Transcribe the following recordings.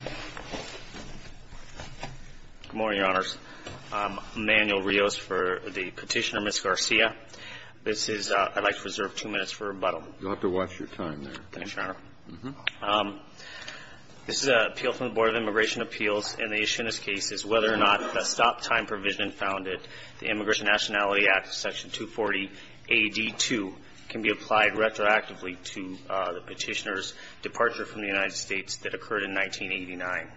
Good morning, Your Honors. I'm Emanuel Rios for the petitioner, Ms. Garcia. This is – I'd like to reserve two minutes for rebuttal. You'll have to watch your time there. Thanks, Your Honor. This is an appeal from the Board of Immigration Appeals, and the issue in this case is whether or not a stop-time provision founded in the Immigration Nationality Act, Section 240, AD 2, can be applied retroactively to the petitioner's departure from the United States that occurred in 1989.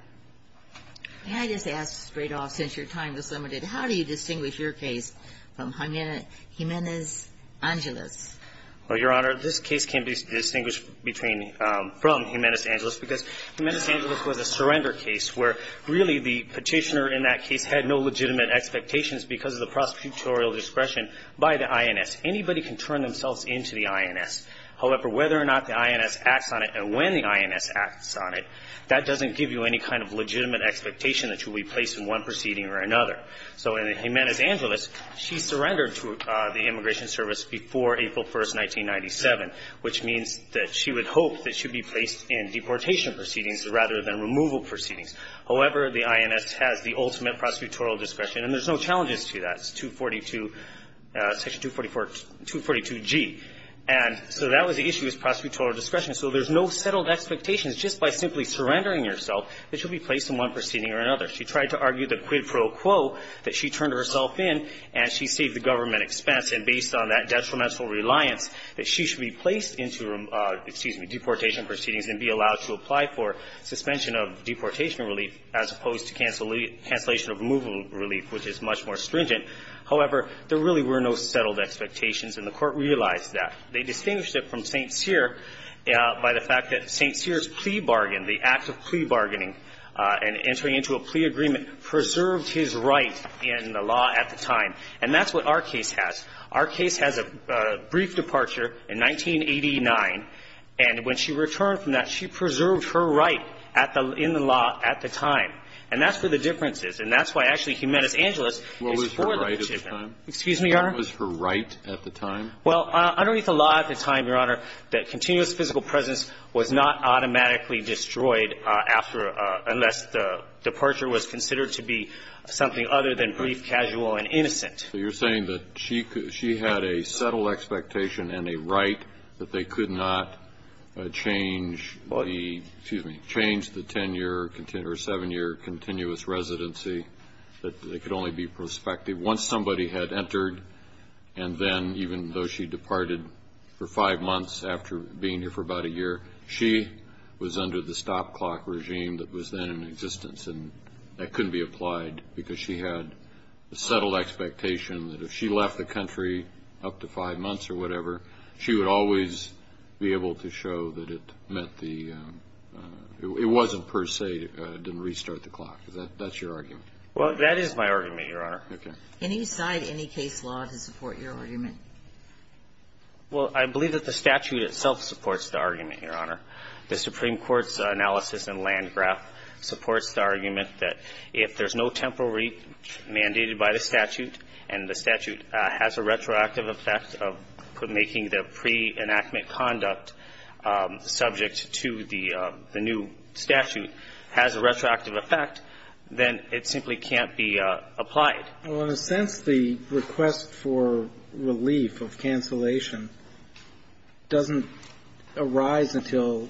May I just ask straight off, since your time is limited, how do you distinguish your case from Jimenez Angelis? Well, Your Honor, this case can be distinguished between – from Jimenez Angelis because Jimenez Angelis was a surrender case where, really, the petitioner in that case had no legitimate expectations because of the prosecutorial discretion by the INS. Anybody can turn themselves into the INS. However, whether or not the INS acts on it and when the INS acts on it, that doesn't give you any kind of legitimate expectation that you'll be placed in one proceeding or another. So in Jimenez Angelis, she surrendered to the Immigration Service before April 1st, 1997, which means that she would hope that she'd be placed in deportation proceedings rather than removal proceedings. However, the INS has the ultimate prosecutorial discretion, and there's no challenges to that. That's 242 – Section 244 – 242G. And so that was the issue, was prosecutorial discretion. So there's no settled expectations. Just by simply surrendering yourself, that you'll be placed in one proceeding or another. She tried to argue the quid pro quo that she turned herself in, and she saved the government expense. And based on that detrimental reliance, that she should be placed into – excuse me – deportation proceedings and be allowed to apply for suspension of deportation relief, as opposed to cancellation of removal relief, which is much more stringent. However, there really were no settled expectations, and the Court realized that. They distinguished it from St. Cyr by the fact that St. Cyr's plea bargain, the act of plea bargaining, and entering into a plea agreement, preserved his right in the law at the time. And that's what our case has. Our case has a brief departure in 1989, and when she returned from that, she preserved her right at the – in the law at the time. And that's where the difference is. And that's why, actually, Jimenez-Angeles is for the petition. Excuse me, Your Honor. What was her right at the time? Well, underneath the law at the time, Your Honor, that continuous physical presence was not automatically destroyed after – unless the departure was considered to be something other than brief, casual, and innocent. So you're saying that she had a settled expectation and a right that they could not change the 10-year or 7-year continuous residency, that they could only be prospective. Once somebody had entered, and then, even though she departed for five months after being here for about a year, she was under the stop clock regime that was then in existence. And that couldn't be applied because she had a settled expectation that if she left the country up to five months or whatever, she would always be able to show that it met the – it wasn't per se, didn't restart the clock. Is that – that's your argument? Well, that is my argument, Your Honor. Okay. Can you cite any case law to support your argument? Well, I believe that the statute itself supports the argument, Your Honor. The Supreme Court's analysis in Landgraf supports the argument that if there's no temporary mandate by the statute, and the statute has a retroactive effect of making the pre-enactment conduct subject to the new statute has a retroactive effect, then it simply can't be applied. Well, in a sense, the request for relief of cancellation doesn't arise until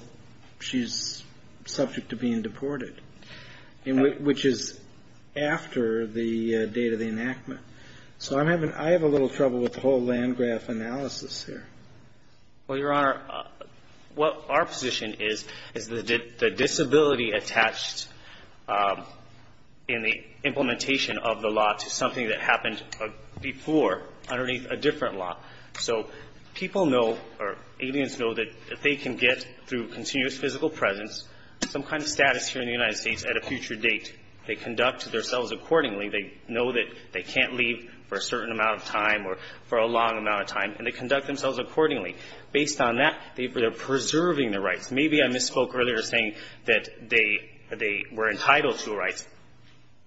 she's subject to being deported, which is after the date of the enactment. So I'm having – I have a little trouble with the whole Landgraf analysis here. Well, Your Honor, what our position is, is the disability attached in the implementation of the law to something that happened before underneath a different law. So people know, or aliens know, that they can get, through continuous physical presence, some kind of status here in the United States at a future date. They conduct themselves accordingly. They know that they can't leave for a certain amount of time or for a long amount of time, and they conduct themselves accordingly. Based on that, they're preserving their rights. Maybe I misspoke earlier, saying that they were entitled to rights.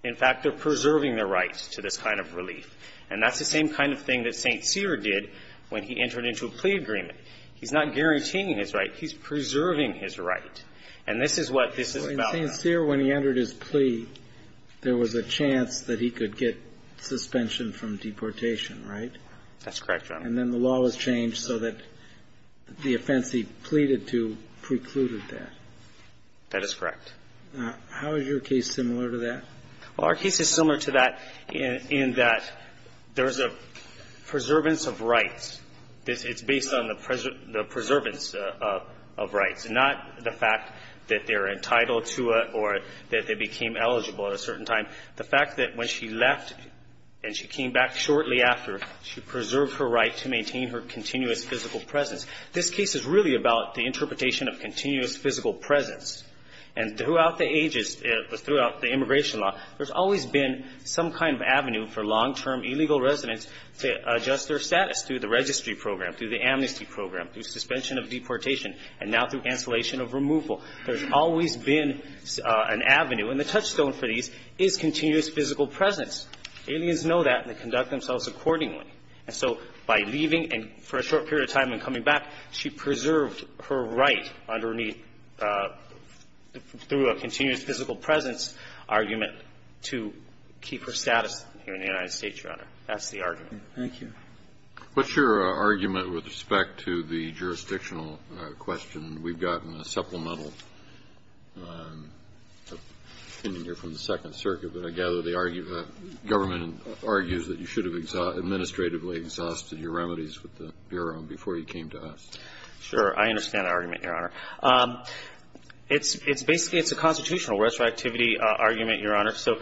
In fact, they're preserving their rights to this kind of relief. And that's the same kind of thing that St. Cyr did when he entered into a plea agreement. He's not guaranteeing his right. He's preserving his right. And this is what this is about. Well, in St. Cyr, when he entered his plea, there was a chance that he could get suspension from deportation, right? That's correct, Your Honor. And then the law was changed so that the offense he pleaded to precluded that. That is correct. How is your case similar to that? Well, our case is similar to that in that there's a preservance of rights. It's based on the preservance of rights, not the fact that they're entitled to it or that they became eligible at a certain time. The fact that when she left and she came back shortly after, she preserved her right to maintain her continuous physical presence. This case is really about the interpretation of continuous physical presence. And throughout the ages, throughout the immigration law, there's always been some kind of avenue for long-term illegal residents to adjust their status through the registry program, through the amnesty program, through suspension of deportation, and now through cancellation of removal. There's always been an avenue. And the touchstone for these is continuous physical presence. Aliens know that and they conduct themselves accordingly. And so by leaving and for a short period of time and coming back, she preserved her right underneath, through a continuous physical presence argument, to keep her status here in the United States, Your Honor. That's the argument. Thank you. What's your argument with respect to the jurisdictional question? We've gotten a supplemental opinion here from the Second Circuit, but I gather the government argues that you should have administratively exhausted your remedies with the Bureau before you came to us. Sure. I understand that argument, Your Honor. It's basically a constitutional retroactivity argument, Your Honor. So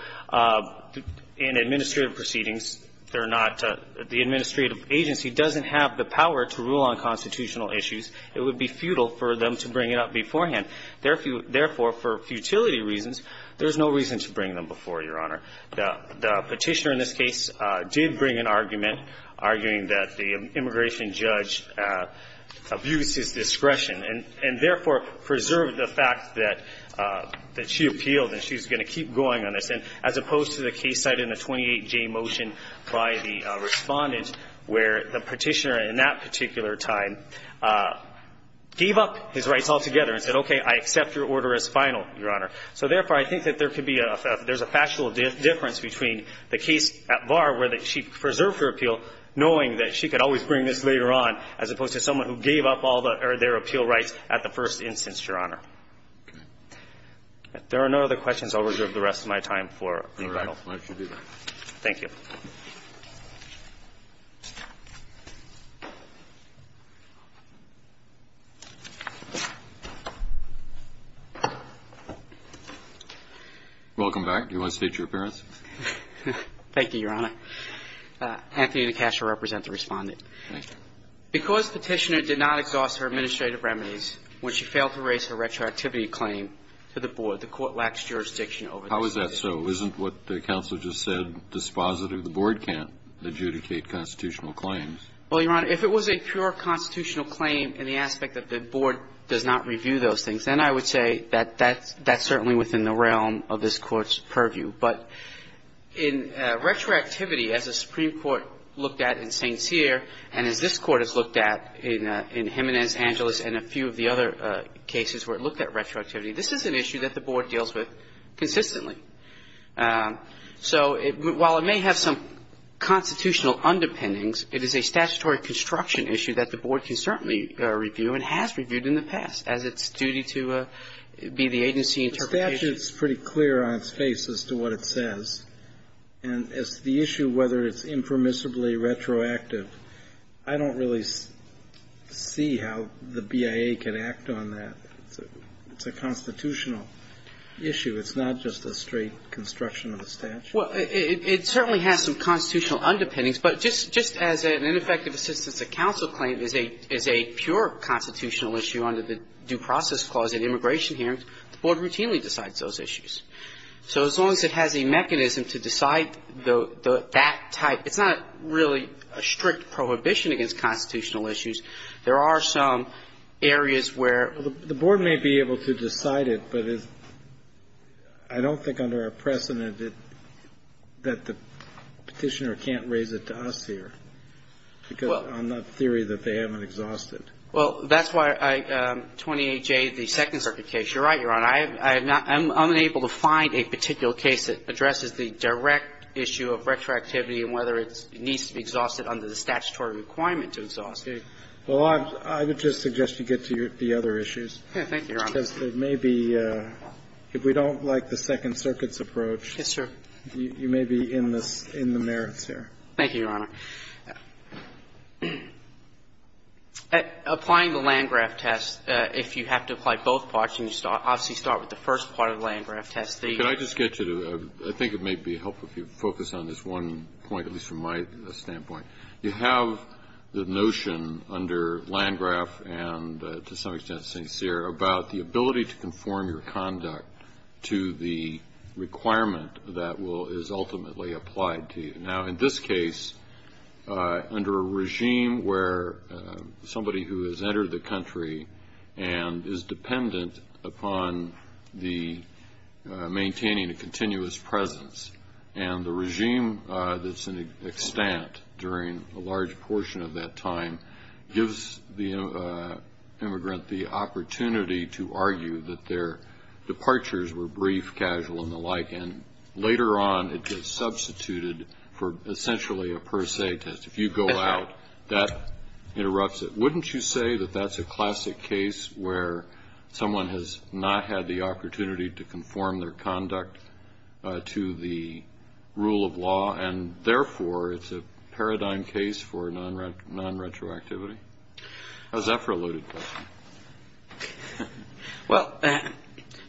in administrative proceedings, they're not the administrative agency doesn't have the power to rule on constitutional issues. It would be futile for them to bring it up beforehand. Therefore, for futility reasons, there's no reason to bring them before, Your Honor. The Petitioner in this case did bring an argument arguing that the immigration judge abused his discretion and therefore preserved the fact that she appealed and she's going to keep going on this, as opposed to the case cited in the 28J motion by the Respondent where the Petitioner in that particular time gave up his rights altogether and said, okay, I accept your order as final, Your Honor. So therefore, I think that there could be a – there's a factual difference between the case at VAR where she preserved her appeal, knowing that she could always bring this later on, as opposed to someone who gave up all their appeal rights at the first instance, Your Honor. Okay. If there are no other questions, I'll reserve the rest of my time for rebuttal. All right. Let's do that. Thank you. Welcome back. Do you want to state your appearance? Thank you, Your Honor. Anthony DeCasso represents the Respondent. Thank you. Because Petitioner did not exhaust her administrative remedies when she failed to raise her retroactivity claim to the board, the Court lacks jurisdiction over this case. How is that so? Isn't what the counsel just said dispositive? The board can't adjudicate constitutional claims. Well, Your Honor, if it was a pure constitutional claim in the aspect that the board does not review those things, then I would say that that's certainly within the realm of this Court's purview. But in retroactivity, as the Supreme Court looked at in St. Cyr and as this Court has looked at in Jimenez Angeles and a few of the other cases where it looked at So while it may have some constitutional underpinnings, it is a statutory construction issue that the board can certainly review and has reviewed in the past as its duty to be the agency interpretation. The statute is pretty clear on its face as to what it says. And as to the issue whether it's impermissibly retroactive, I don't really see how the BIA can act on that. It's a constitutional issue. It's not just a straight construction of the statute. Well, it certainly has some constitutional underpinnings. But just as an ineffective assistance of counsel claim is a pure constitutional issue under the Due Process Clause in immigration hearings, the board routinely decides those issues. So as long as it has a mechanism to decide that type, it's not really a strict prohibition against constitutional issues. There are some areas where the board may be able to decide it. But I don't think under our precedent that the Petitioner can't raise it to us here because of the theory that they haven't exhausted. Well, that's why 28J, the Second Circuit case. You're right, Your Honor. I'm unable to find a particular case that addresses the direct issue of retroactivity and whether it needs to be exhausted under the statutory requirement to exhaust it. Well, I would just suggest you get to the other issues. Thank you, Your Honor. Because it may be, if we don't like the Second Circuit's approach. Yes, sir. You may be in the merits here. Thank you, Your Honor. Applying the Landgraf test, if you have to apply both parts, you obviously start with the first part of the Landgraf test. Can I just get you to do that? I think it may be helpful if you focus on this one point, at least from my standpoint. You have the notion under Landgraf and, to some extent, St. Cyr, about the ability to conform your conduct to the requirement that is ultimately applied to you. Now, in this case, under a regime where somebody who has entered the country and is dependent upon maintaining a continuous presence, and the regime that's in extant during a large portion of that time gives the immigrant the opportunity to argue that their departures were brief, casual, and the like, and later on it gets substituted for essentially a per se test. If you go out, that interrupts it. Wouldn't you say that that's a classic case where someone has not had the rule of law and, therefore, it's a paradigm case for nonretroactivity? How's that for a loaded question? Well,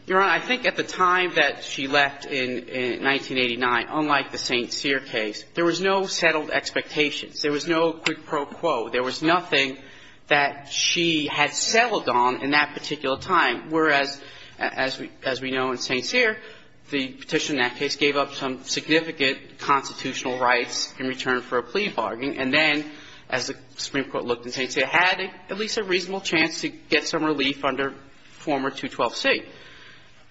Your Honor, I think at the time that she left in 1989, unlike the St. Cyr case, there was no settled expectations. There was no quid pro quo. There was nothing that she had settled on in that particular time, whereas, as we know in St. Cyr, the petition in that case gave up some significant constitutional rights in return for a plea bargain. And then, as the Supreme Court looked in St. Cyr, had at least a reasonable chance to get some relief under former 212c.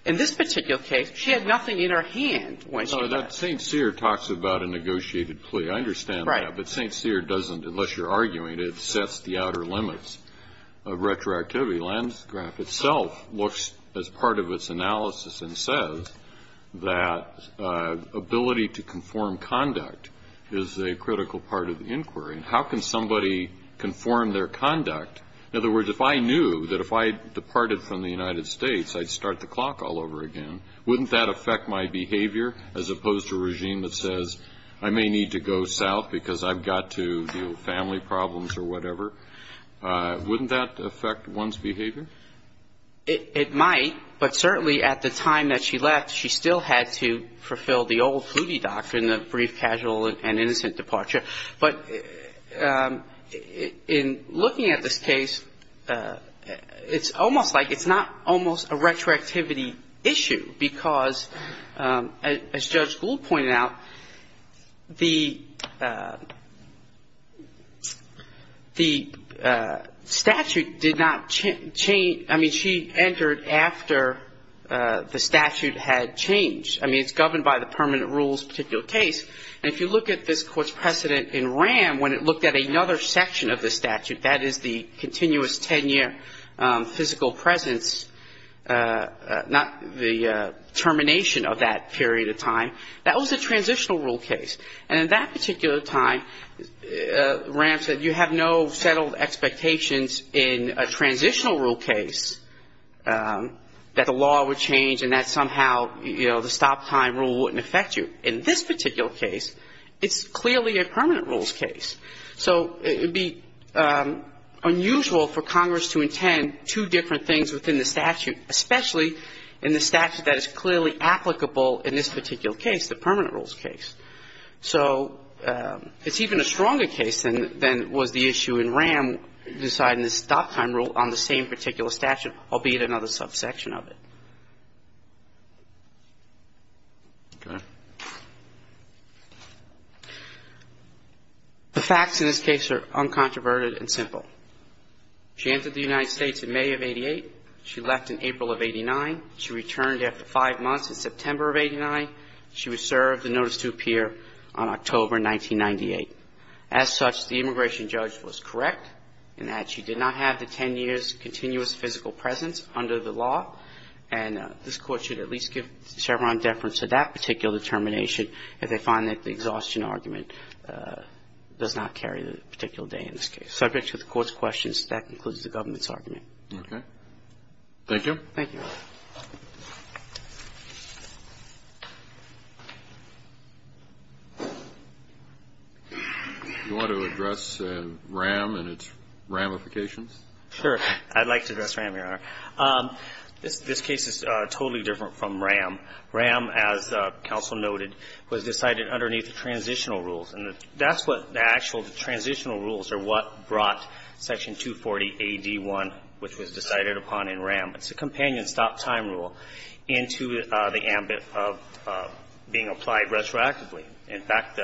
In this particular case, she had nothing in her hand when she left. So that St. Cyr talks about a negotiated plea. I understand that. Right. But St. Cyr doesn't, unless you're arguing it, it sets the outer limits of retroactivity. The landscrap itself looks, as part of its analysis, and says that ability to conform conduct is a critical part of the inquiry. How can somebody conform their conduct? In other words, if I knew that if I departed from the United States, I'd start the clock all over again, wouldn't that affect my behavior, as opposed to a regime that says, I may need to go south because I've got to deal with family problems or whatever? Wouldn't that affect one's behavior? It might. But certainly, at the time that she left, she still had to fulfill the old Hoovey doctrine of brief, casual, and innocent departure. But in looking at this case, it's almost like it's not almost a retroactivity issue, because, as Judge Gould pointed out, the, the, the, the, the, the, the, the statute did not change. I mean, she entered after the statute had changed. I mean, it's governed by the permanent rules particular case. And if you look at this Court's precedent in Ram, when it looked at another section of the statute, that is the continuous 10-year physical presence, not the termination of that period of time, that was a transitional rule case. And in that particular time, Ram said, you have no settled expectations in a transitional rule case that the law would change and that somehow, you know, the stop time rule wouldn't affect you. In this particular case, it's clearly a permanent rules case. So it would be unusual for Congress to intend two different things within the statute, especially in the statute that is clearly applicable in this particular case, the permanent rules case. So it's even a stronger case than was the issue in Ram deciding the stop time rule on the same particular statute, albeit another subsection of it. The facts in this case are uncontroverted and simple. She entered the United States in May of 88. She left in April of 89. She returned after five months in September of 89. She was served a notice to appear on October 1998. As such, the immigration judge was correct in that she did not have the 10 years' continuous physical presence under the law. And this Court should at least give Chevron deference to that particular determination if they find that the exhaustion argument does not carry the particular day in this case. Thank you. Thank you. You want to address Ram and its ramifications? Sure. I'd like to address Ram, Your Honor. This case is totally different from Ram. Ram, as counsel noted, was decided underneath the transitional rules. And that's what the actual transitional rules are what brought Section 240AD1, which was decided upon in Ram. It's a companion stop time rule into the ambit of being applied retroactively. In fact,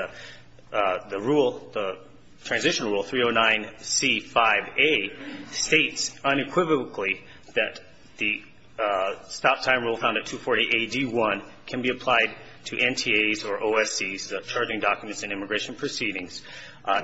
the rule, the transitional rule, 309C5A, states unequivocally that the stop time rule found at 240AD1 can be applied to NTAs or OSCs, the charging documents and immigration proceedings,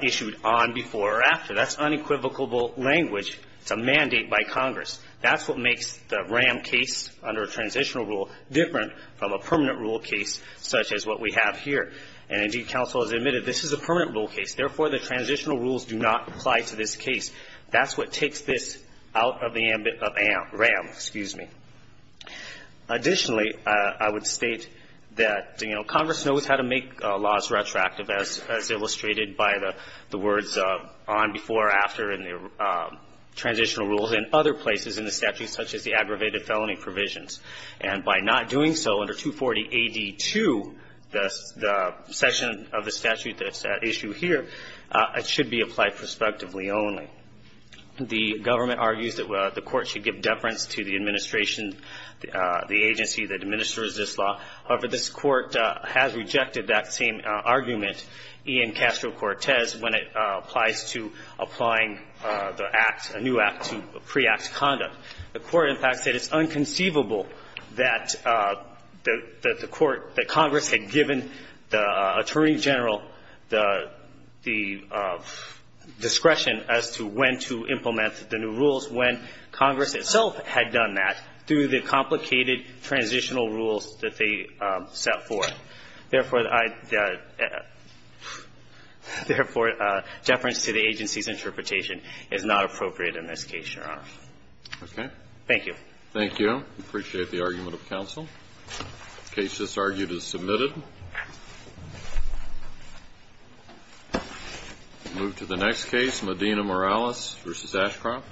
issued on, before, or after. That's unequivocal language. It's a mandate by Congress. That's what makes the Ram case under a transitional rule different from a permanent rule case such as what we have here. And, indeed, counsel has admitted this is a permanent rule case. Therefore, the transitional rules do not apply to this case. That's what takes this out of the ambit of Ram. Excuse me. Additionally, I would state that, you know, Congress knows how to make laws retroactive, as illustrated by the words on, before, or after in the transitional rules in other places in the statute, such as the aggravated felony provisions. And by not doing so under 240AD2, the section of the statute that's at issue here, it should be applied prospectively only. The government argues that the Court should give deference to the administration, the agency that administers this law. However, this Court has rejected that same argument, Ian Castro-Cortez, when it applies to applying the Act, a new Act to pre-Act conduct. The Court, in fact, said it's unconceivable that the Court, that Congress had given the Attorney General the discretion as to when to implement the new rules when Congress itself had done that through the complicated transitional rules that they set forth. Therefore, I'd – therefore, deference to the agency's interpretation is not appropriate in this case, Your Honor. Okay. Thank you. Thank you. We appreciate the argument of counsel. The case that's argued is submitted. We'll move to the next case, Medina-Morales v. Ashcroft.